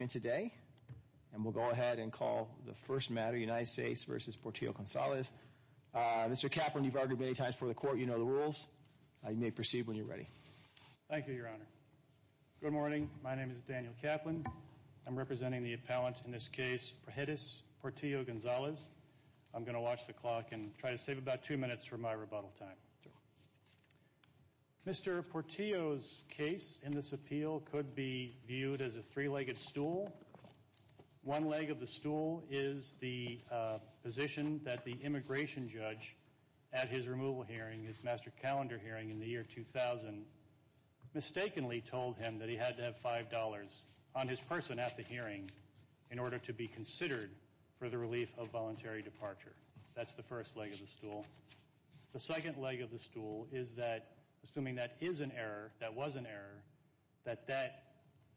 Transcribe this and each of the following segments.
And we'll go ahead and call the first matter, United States v. Portillo-Gonzalez. Mr. Kaplan, you've argued many times before the court, you know the rules. You may proceed when you're ready. Thank you, Your Honor. Good morning. My name is Daniel Kaplan. I'm representing the appellant in this case, Praxedis Portillo-Gonzalez. I'm going to watch the clock and try to save about two minutes for my rebuttal time. Mr. Portillo's case in this appeal could be viewed as a three-legged stool. One leg of the stool is the position that the immigration judge at his removal hearing, his master calendar hearing in the year 2000, mistakenly told him that he had to have $5 on his person at the hearing in order to be considered for the relief of voluntary departure. That's the first leg of the stool. The second leg of the stool is that, assuming that is an error, that was an error, that that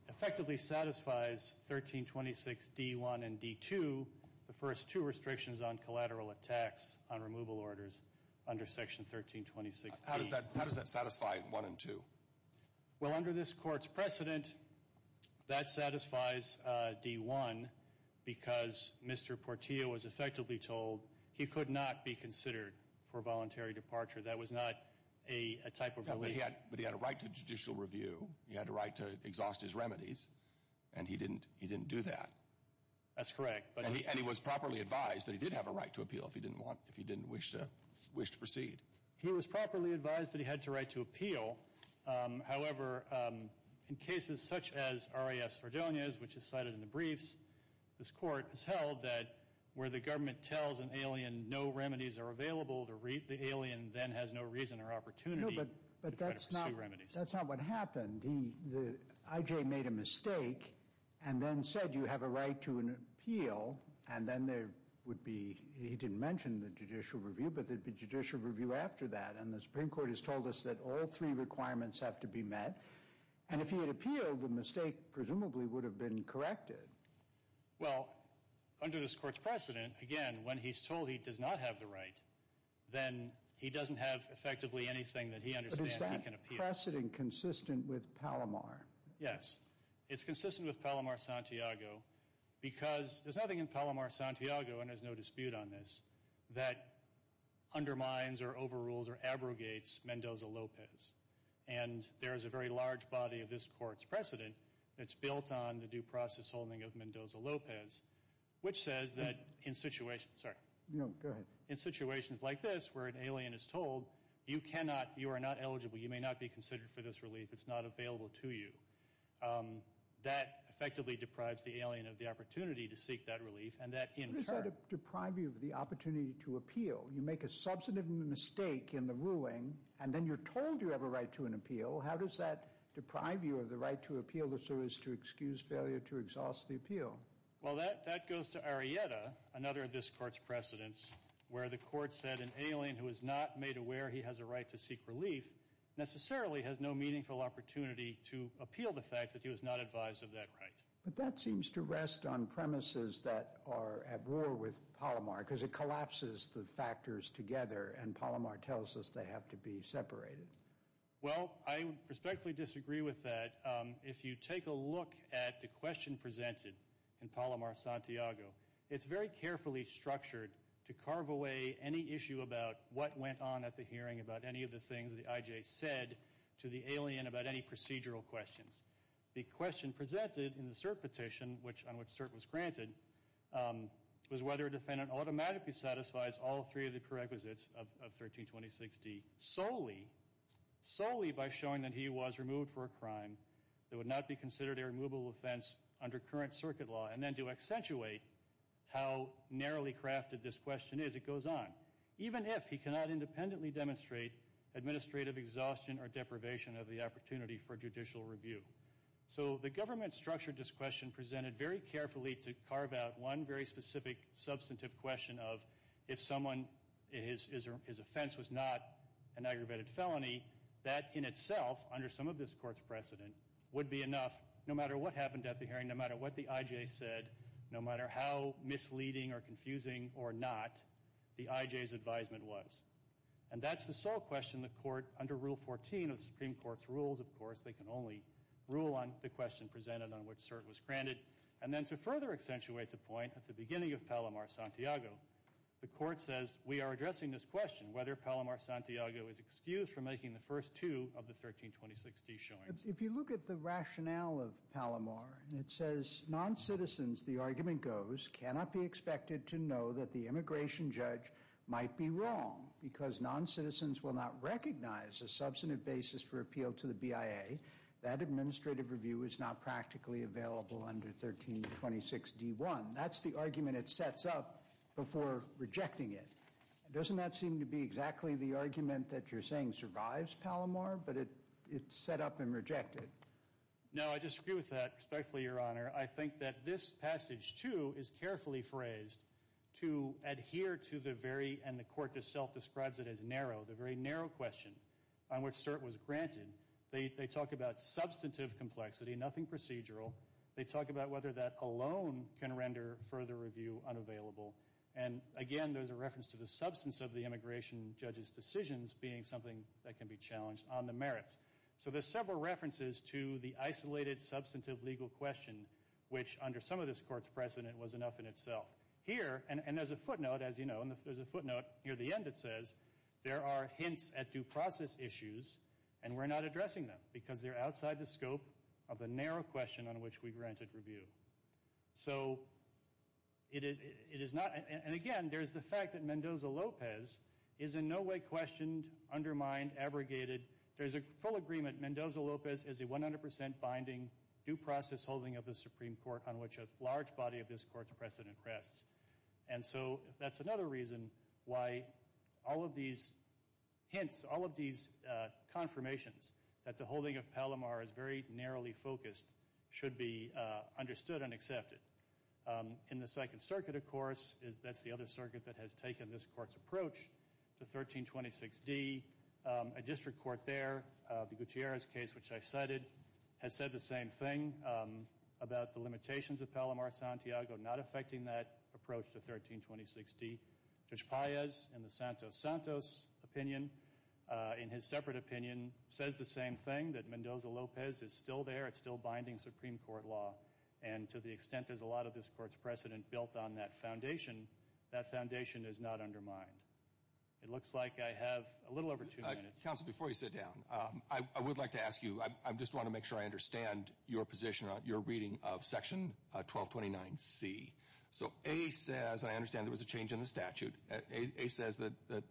effectively satisfies 1326 D-1 and D-2, the first two restrictions on collateral attacks on removal orders under Section 1326-D. How does that satisfy 1 and 2? Well, under this court's precedent, that satisfies D-1 because Mr. Portillo was effectively told he could not be considered for voluntary departure. That was not a type of relief. But he had a right to judicial review. He had a right to exhaust his remedies, and he didn't do that. That's correct. And he was properly advised that he did have a right to appeal if he didn't wish to proceed. He was properly advised that he had the right to appeal. However, in cases such as R.A.F. Sardogna's, which is cited in the briefs, this court has held that where the government tells an alien no remedies are available to reap, the alien then has no reason or opportunity to better pursue remedies. No, but that's not what happened. I.J. made a mistake and then said you have a right to an appeal, and then there would be—he didn't mention the judicial review, but there would be judicial review after that. And the Supreme Court has told us that all three requirements have to be met. And if he had appealed, the mistake presumably would have been corrected. Well, under this court's precedent, again, when he's told he does not have the right, then he doesn't have effectively anything that he understands he can appeal. But is that precedent consistent with Palomar? Yes. It's consistent with Palomar-Santiago because there's nothing in Palomar-Santiago, and there's no dispute on this, that undermines or overrules or abrogates Mendoza-Lopez. And there is a very large body of this court's precedent that's built on the due process holding of Mendoza-Lopez, which says that in situations like this where an alien is told you are not eligible, you may not be considered for this relief, it's not available to you, that effectively deprives the alien of the opportunity to seek that relief. How does that deprive you of the opportunity to appeal? You make a substantive mistake in the ruling, and then you're told you have a right to an appeal. How does that deprive you of the right to appeal if there is to excuse failure to exhaust the appeal? Well, that goes to Arrieta, another of this court's precedents, where the court said an alien who is not made aware he has a right to seek relief necessarily has no meaningful opportunity to appeal the fact that he was not advised of that right. But that seems to rest on premises that are at war with Palomar, because it collapses the factors together and Palomar tells us they have to be separated. Well, I respectfully disagree with that. If you take a look at the question presented in Palomar-Santiago, it's very carefully structured to carve away any issue about what went on at the hearing, about any of the things the I.J. said to the alien about any procedural questions. The question presented in the cert petition, on which cert was granted, was whether a defendant automatically satisfies all three of the prerequisites of 132060 solely, solely by showing that he was removed for a crime that would not be considered a removable offense under current circuit law, and then to accentuate how narrowly crafted this question is, it goes on, even if he cannot independently demonstrate administrative exhaustion or deprivation of the opportunity for judicial review. So the government structured this question presented very carefully to carve out one very specific, substantive question of if someone, his offense was not an aggravated felony, that in itself, under some of this court's precedent, would be enough, no matter what happened at the hearing, no matter what the I.J. said, no matter how misleading or confusing or not the I.J.'s advisement was. And that's the sole question the court, under Rule 14 of the Supreme Court's rules, of course, they can only rule on the question presented on which cert was granted. And then to further accentuate the point, at the beginning of Palomar-Santiago, the court says, we are addressing this question, whether Palomar-Santiago is excused from making the first two of the 132060 showings. If you look at the rationale of Palomar, it says, as non-citizens, the argument goes, cannot be expected to know that the immigration judge might be wrong because non-citizens will not recognize a substantive basis for appeal to the BIA. That administrative review is not practically available under 1326D1. That's the argument it sets up before rejecting it. Doesn't that seem to be exactly the argument that you're saying survives Palomar, but it's set up and rejected? No, I disagree with that, respectfully, Your Honor. I think that this passage, too, is carefully phrased to adhere to the very, and the court itself describes it as narrow, the very narrow question on which cert was granted. They talk about substantive complexity, nothing procedural. They talk about whether that alone can render further review unavailable. And, again, there's a reference to the substance of the immigration judge's decisions being something that can be challenged on the merits. So there's several references to the isolated substantive legal question, which, under some of this court's precedent, was enough in itself. Here, and there's a footnote, as you know, and there's a footnote near the end, it says, there are hints at due process issues, and we're not addressing them because they're outside the scope of the narrow question on which we granted review. So it is not, and, again, there's the fact that Mendoza-Lopez is in no way questioned, undermined, abrogated. There's a full agreement. Mendoza-Lopez is a 100% binding due process holding of the Supreme Court on which a large body of this court's precedent rests. And so that's another reason why all of these hints, all of these confirmations that the holding of Palomar is very narrowly focused should be understood and accepted. In the Second Circuit, of course, that's the other circuit that has taken this court's approach, the 1326D. A district court there, the Gutierrez case, which I cited, has said the same thing about the limitations of Palomar-Santiago not affecting that approach to 1326D. Judge Paez, in the Santos-Santos opinion, in his separate opinion, says the same thing, that Mendoza-Lopez is still there. It's still binding Supreme Court law. And to the extent there's a lot of this court's precedent built on that foundation, that foundation is not undermined. It looks like I have a little over two minutes. Counsel, before you sit down, I would like to ask you, I just want to make sure I understand your position on your reading of Section 1229C. So A says, and I understand there was a change in the statute, A says that the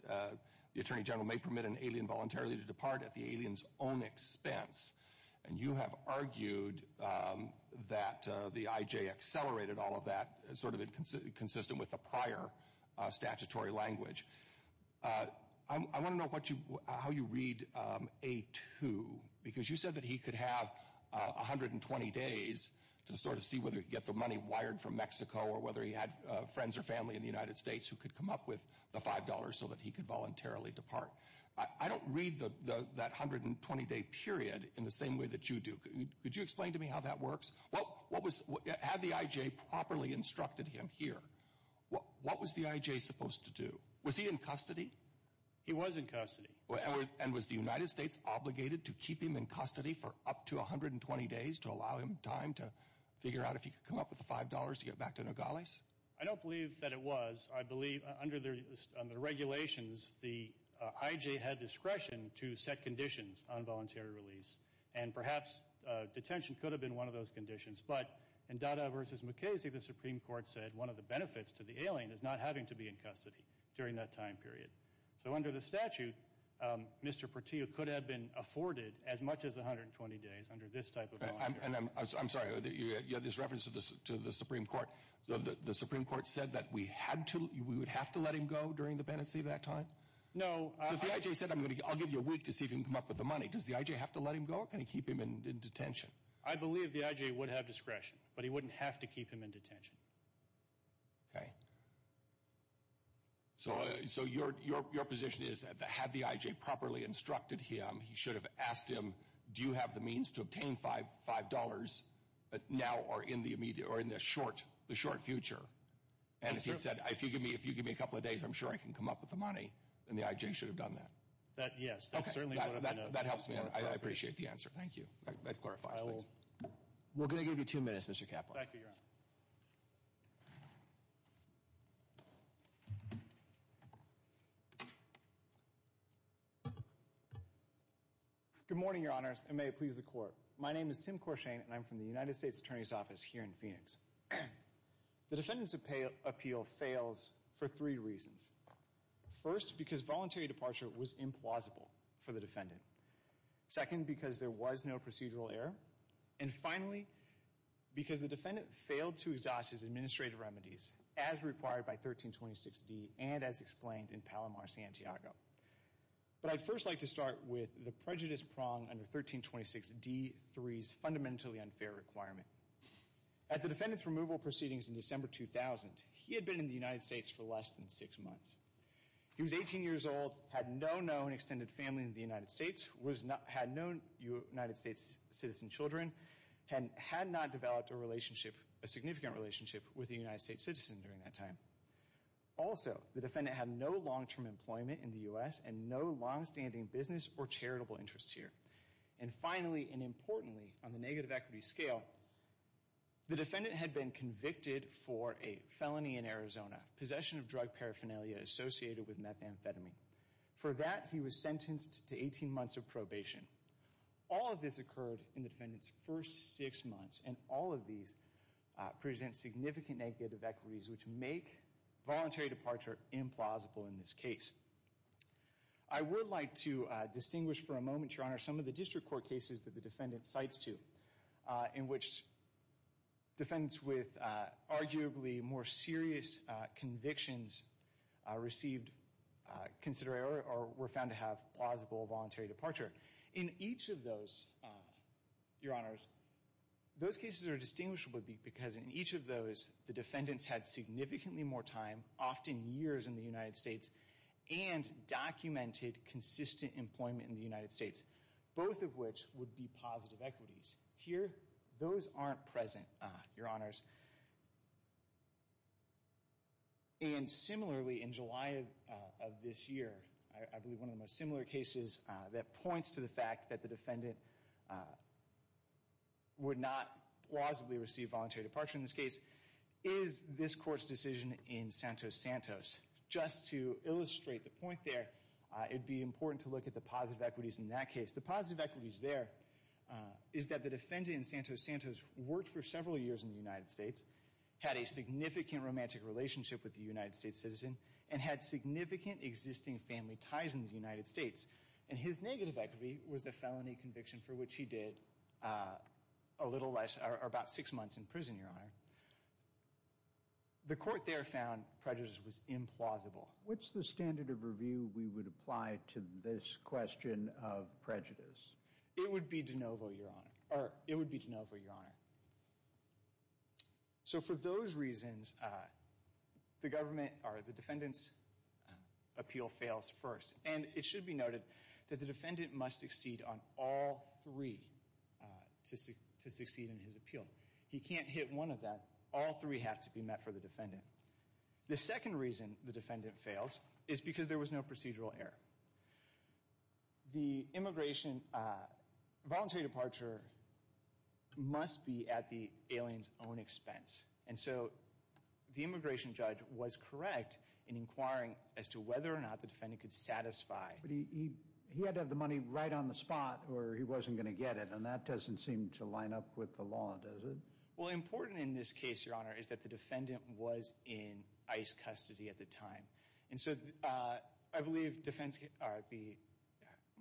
Attorney General may permit an alien voluntarily to depart at the alien's own expense. And you have argued that the IJ accelerated all of that, sort of consistent with the prior statutory language. I want to know how you read A2, because you said that he could have 120 days to sort of see whether he could get the money wired from Mexico or whether he had friends or family in the United States who could come up with the $5 so that he could voluntarily depart. I don't read that 120-day period in the same way that you do. Could you explain to me how that works? Had the IJ properly instructed him here, what was the IJ supposed to do? Was he in custody? He was in custody. And was the United States obligated to keep him in custody for up to 120 days to allow him time to figure out if he could come up with the $5 to get back to Nogales? I don't believe that it was. I believe under the regulations, the IJ had discretion to set conditions on voluntary release. And perhaps detention could have been one of those conditions. But in Dada v. McKaysey, the Supreme Court said one of the benefits to the alien is not having to be in custody during that time period. So under the statute, Mr. Portillo could have been afforded as much as 120 days under this type of voluntary release. I'm sorry, you had this reference to the Supreme Court. The Supreme Court said that we would have to let him go during the Bennettsee that time? So if the IJ said, I'll give you a week to see if you can come up with the money, does the IJ have to let him go or can he keep him in detention? I believe the IJ would have discretion, but he wouldn't have to keep him in detention. Okay. So your position is that had the IJ properly instructed him, he should have asked him do you have the means to obtain $5 now or in the immediate or in the short future? And if he'd said, if you give me a couple of days, I'm sure I can come up with the money, then the IJ should have done that? Yes, that's certainly what I would have done. That helps me. I appreciate the answer. Thank you. That clarifies things. We're going to give you two minutes, Mr. Kaplan. Thank you, Your Honor. Good morning, Your Honors, and may it please the Court. My name is Tim Corshane, and I'm from the United States Attorney's Office here in Phoenix. The defendant's appeal fails for three reasons. First, because voluntary departure was implausible for the defendant. Second, because there was no procedural error. And finally, because the defendant failed to exhaust his administrative remedies as required by 1326D and as explained in Palomar-Santiago. But I'd first like to start with the prejudice prong under 1326D-3's fundamentally unfair requirement. At the defendant's removal proceedings in December 2000, he had been in the United States for less than six months. He was 18 years old, had no known extended family in the United States, had no United States citizen children, and had not developed a relationship, a significant relationship, with a United States citizen during that time. Also, the defendant had no long-term employment in the U.S. and no long-standing business or charitable interests here. And finally, and importantly, on the negative equity scale, the defendant had been convicted for a felony in Arizona, possession of drug paraphernalia associated with methamphetamine. For that, he was sentenced to 18 months of probation. All of this occurred in the defendant's first six months, and all of these present significant negative equities which make voluntary departure implausible in this case. I would like to distinguish for a moment, Your Honor, some of the district court cases that the defendant cites to in which defendants with arguably more serious convictions received or were found to have plausible voluntary departure. In each of those, Your Honors, those cases are distinguishable because in each of those, the defendants had significantly more time, often years in the United States, and documented consistent employment in the United States, both of which would be positive equities. Here, those aren't present, Your Honors. And similarly, in July of this year, I believe one of the most similar cases that points to the fact that the defendant would not plausibly receive voluntary departure in this case is this court's decision in Santos-Santos. Just to illustrate the point there, it would be important to look at the positive equities in that case. The positive equities there is that the defendant in Santos-Santos worked for several years in the United States, had a significant romantic relationship with a United States citizen, and had significant existing family ties in the United States. And his negative equity was a felony conviction for which he did a little less, or about six months in prison, Your Honor. The court there found prejudice was implausible. What's the standard of review we would apply to this question of prejudice? It would be de novo, Your Honor. So for those reasons, the defendant's appeal fails first. And it should be noted that the defendant must succeed on all three to succeed in his appeal. He can't hit one of them. All three have to be met for the defendant. The second reason the defendant fails is because there was no procedural error. The immigration voluntary departure must be at the alien's own expense. But he had to have the money right on the spot, or he wasn't going to get it. And that doesn't seem to line up with the law, does it? Well, important in this case, Your Honor, is that the defendant was in ICE custody at the time. And so I believe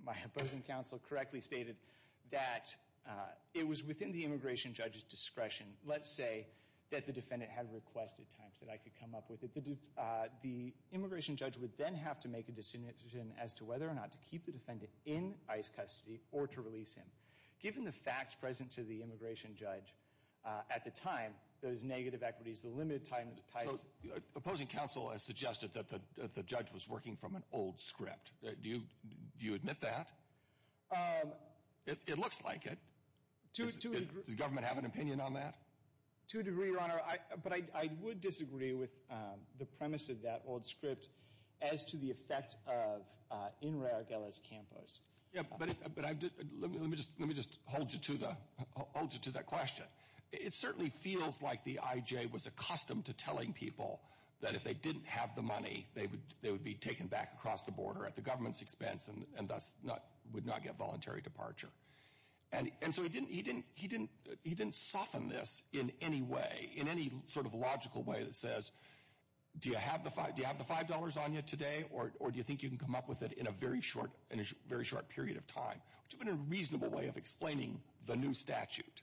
my opposing counsel correctly stated that it was within the immigration judge's discretion, let's say, that the defendant had requested time so that I could come up with it. The immigration judge would then have to make a decision as to whether or not to keep the defendant in ICE custody or to release him. Given the facts present to the immigration judge at the time, those negative equities, the limited time that it takes. Opposing counsel has suggested that the judge was working from an old script. Do you admit that? It looks like it. Does the government have an opinion on that? To a degree, Your Honor. But I would disagree with the premise of that old script as to the effect of in rare galas campos. Yeah, but let me just hold you to that question. It certainly feels like the IJ was accustomed to telling people that if they didn't have the money, they would be taken back across the border at the government's expense and thus would not get voluntary departure. And so he didn't soften this in any way, in any sort of logical way that says, do you have the $5 on you today or do you think you can come up with it in a very short period of time? Which would have been a reasonable way of explaining the new statute.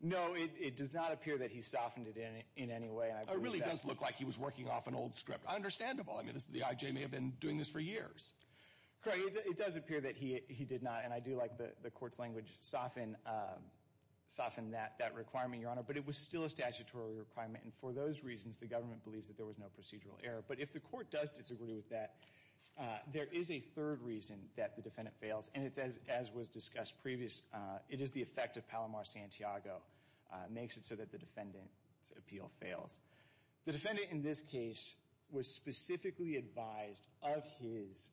No, it does not appear that he softened it in any way. It really does look like he was working off an old script. Understandable. It does appear that he did not. And I do like the court's language, soften, soften that requirement, Your Honor. But it was still a statutory requirement. And for those reasons, the government believes that there was no procedural error. But if the court does disagree with that, there is a third reason that the defendant fails. And it's as was discussed previous. It is the effect of Palomar Santiago makes it so that the defendant's appeal fails. The defendant in this case was specifically advised of his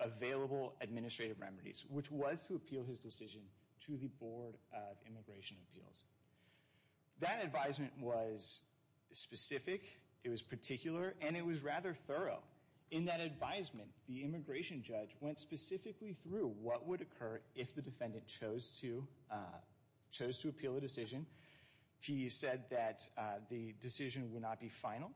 available administrative remedies, which was to appeal his decision to the Board of Immigration Appeals. That advisement was specific, it was particular, and it was rather thorough. In that advisement, the immigration judge went specifically through what would occur if the defendant chose to appeal a decision. He said that the decision would not be final,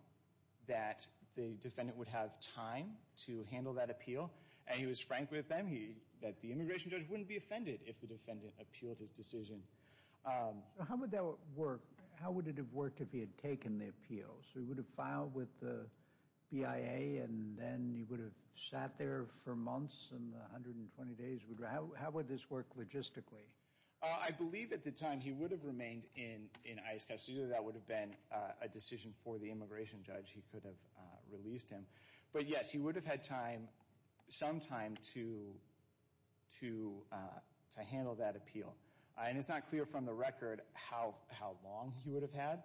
that the defendant would have time to handle that appeal. And he was frank with them, that the immigration judge wouldn't be offended if the defendant appealed his decision. How would that work? How would it have worked if he had taken the appeal? So he would have filed with the BIA, and then he would have sat there for months and 120 days? How would this work logistically? I believe at the time he would have remained in ICE custody. That would have been a decision for the immigration judge. He could have released him. But yes, he would have had time, some time, to handle that appeal. And it's not clear from the record how long he would have had.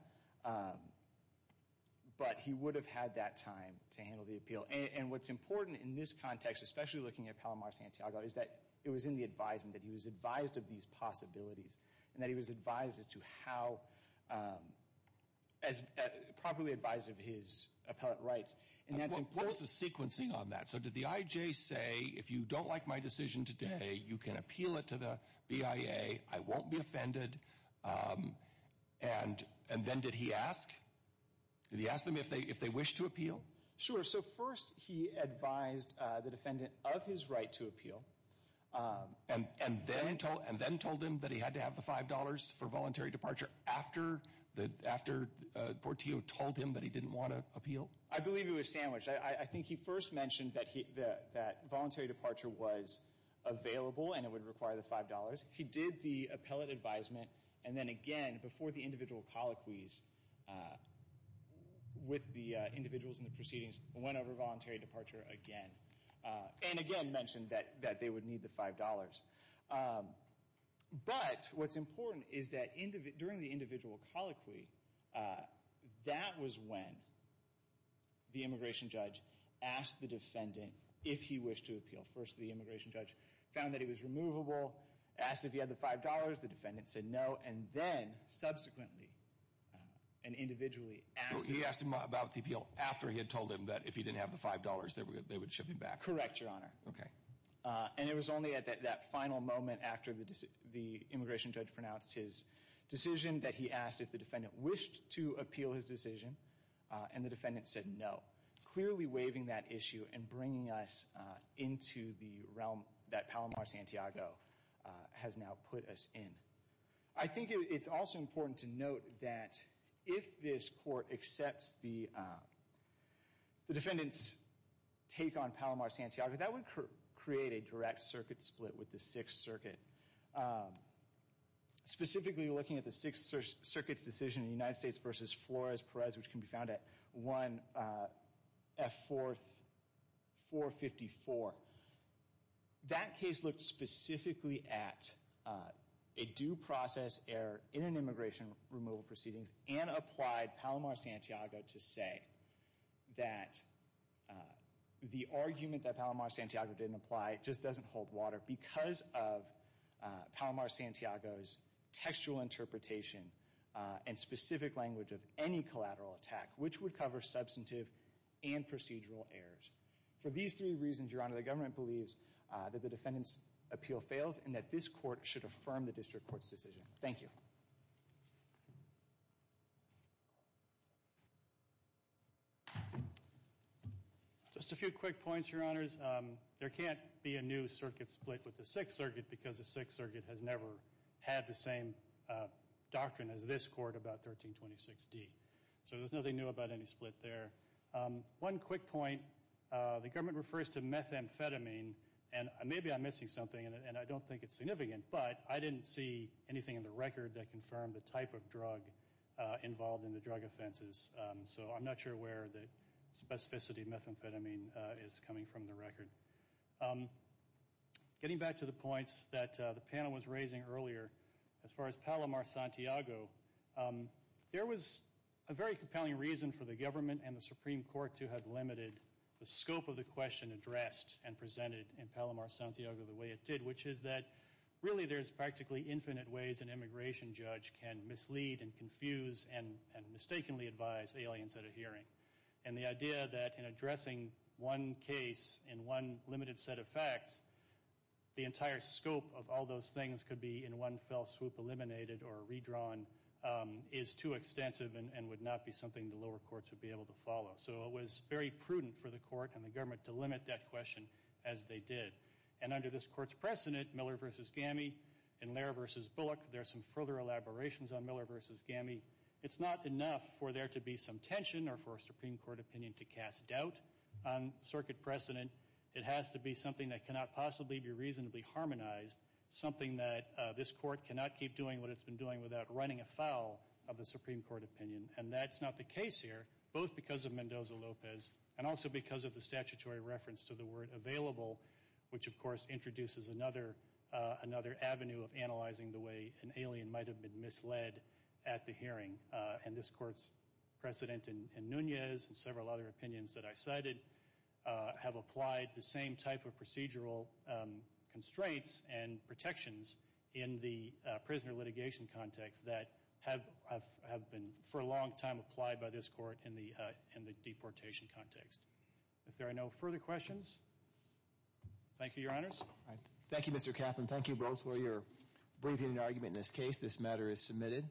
But he would have had that time to handle the appeal. And what's important in this context, especially looking at Palomar Santiago, is that it was in the advisement, that he was advised of these possibilities, and that he was advised as to how properly advised of his appellate rights. What was the sequencing on that? So did the IJ say, if you don't like my decision today, you can appeal it to the BIA, I won't be offended? And then did he ask? Did he ask them if they wish to appeal? Sure. So first he advised the defendant of his right to appeal. And then told him that he had to have the $5 for voluntary departure after Portillo told him that he didn't want to appeal? I believe it was sandwiched. I think he first mentioned that voluntary departure was available and it would require the $5. He did the appellate advisement. And then again, before the individual colloquies, with the individuals in the proceedings, went over voluntary departure again. And again mentioned that they would need the $5. But what's important is that during the individual colloquy, that was when the immigration judge asked the defendant if he wished to appeal. First the immigration judge found that he was removable, asked if he had the $5. The defendant said no. And then subsequently, and individually, asked him. So he asked him about the appeal after he had told him that if he didn't have the $5, they would ship him back? Correct, Your Honor. Okay. And it was only at that final moment after the immigration judge pronounced his decision that he asked if the defendant wished to appeal his decision. And the defendant said no. Clearly waiving that issue and bringing us into the realm that Palomar Santiago has now put us in. I think it's also important to note that if this court accepts the defendant's take on Palomar Santiago, that would create a direct circuit split with the Sixth Circuit. Specifically looking at the Sixth Circuit's decision in the United States versus Flores-Perez, which can be found at 1F4454. That case looked specifically at a due process error in an immigration removal proceedings and applied Palomar Santiago to say that the argument that Palomar Santiago didn't apply just doesn't hold water because of Palomar Santiago's textual interpretation and specific language of any collateral attack, which would cover substantive and procedural errors. For these three reasons, Your Honor, the government believes that the defendant's appeal fails and that this court should affirm the district court's decision. Thank you. Just a few quick points, Your Honors. There can't be a new circuit split with the Sixth Circuit because the Sixth Circuit has never had the same doctrine as this court about 1326D. So there's nothing new about any split there. One quick point, the government refers to methamphetamine, and maybe I'm missing something and I don't think it's significant, but I didn't see anything in the record that confirmed the type of drug involved in the drug offenses. So I'm not sure where the specificity of methamphetamine is coming from in the record. Getting back to the points that the panel was raising earlier, as far as Palomar Santiago, there was a very compelling reason for the government and the Supreme Court to have limited the scope of the question addressed and presented in Palomar Santiago the way it did, which is that really there's practically infinite ways an immigration judge can mislead and confuse and mistakenly advise aliens at a hearing. And the idea that in addressing one case in one limited set of facts, the entire scope of all those things could be in one fell swoop eliminated or redrawn is too extensive and would not be something the lower courts would be able to follow. So it was very prudent for the court and the government to limit that question as they did. And under this court's precedent, Miller v. Gami and Lehrer v. Bullock, there are some further elaborations on Miller v. Gami. It's not enough for there to be some tension or for a Supreme Court opinion to cast doubt on circuit precedent. It has to be something that cannot possibly be reasonably harmonized, something that this court cannot keep doing what it's been doing without running afoul of the Supreme Court opinion. And that's not the case here, both because of Mendoza-Lopez and also because of the statutory reference to the word available, which of course introduces another avenue of analyzing the way an alien might have been misled at the hearing. And this court's precedent in Nunez and several other opinions that I cited have applied the same type of procedural constraints and protections in the prisoner litigation context that have been for a long time applied by this court in the deportation context. If there are no further questions, thank you, Your Honors. Thank you, Mr. Kaplan. Thank you both for your briefing and argument in this case. This matter is submitted.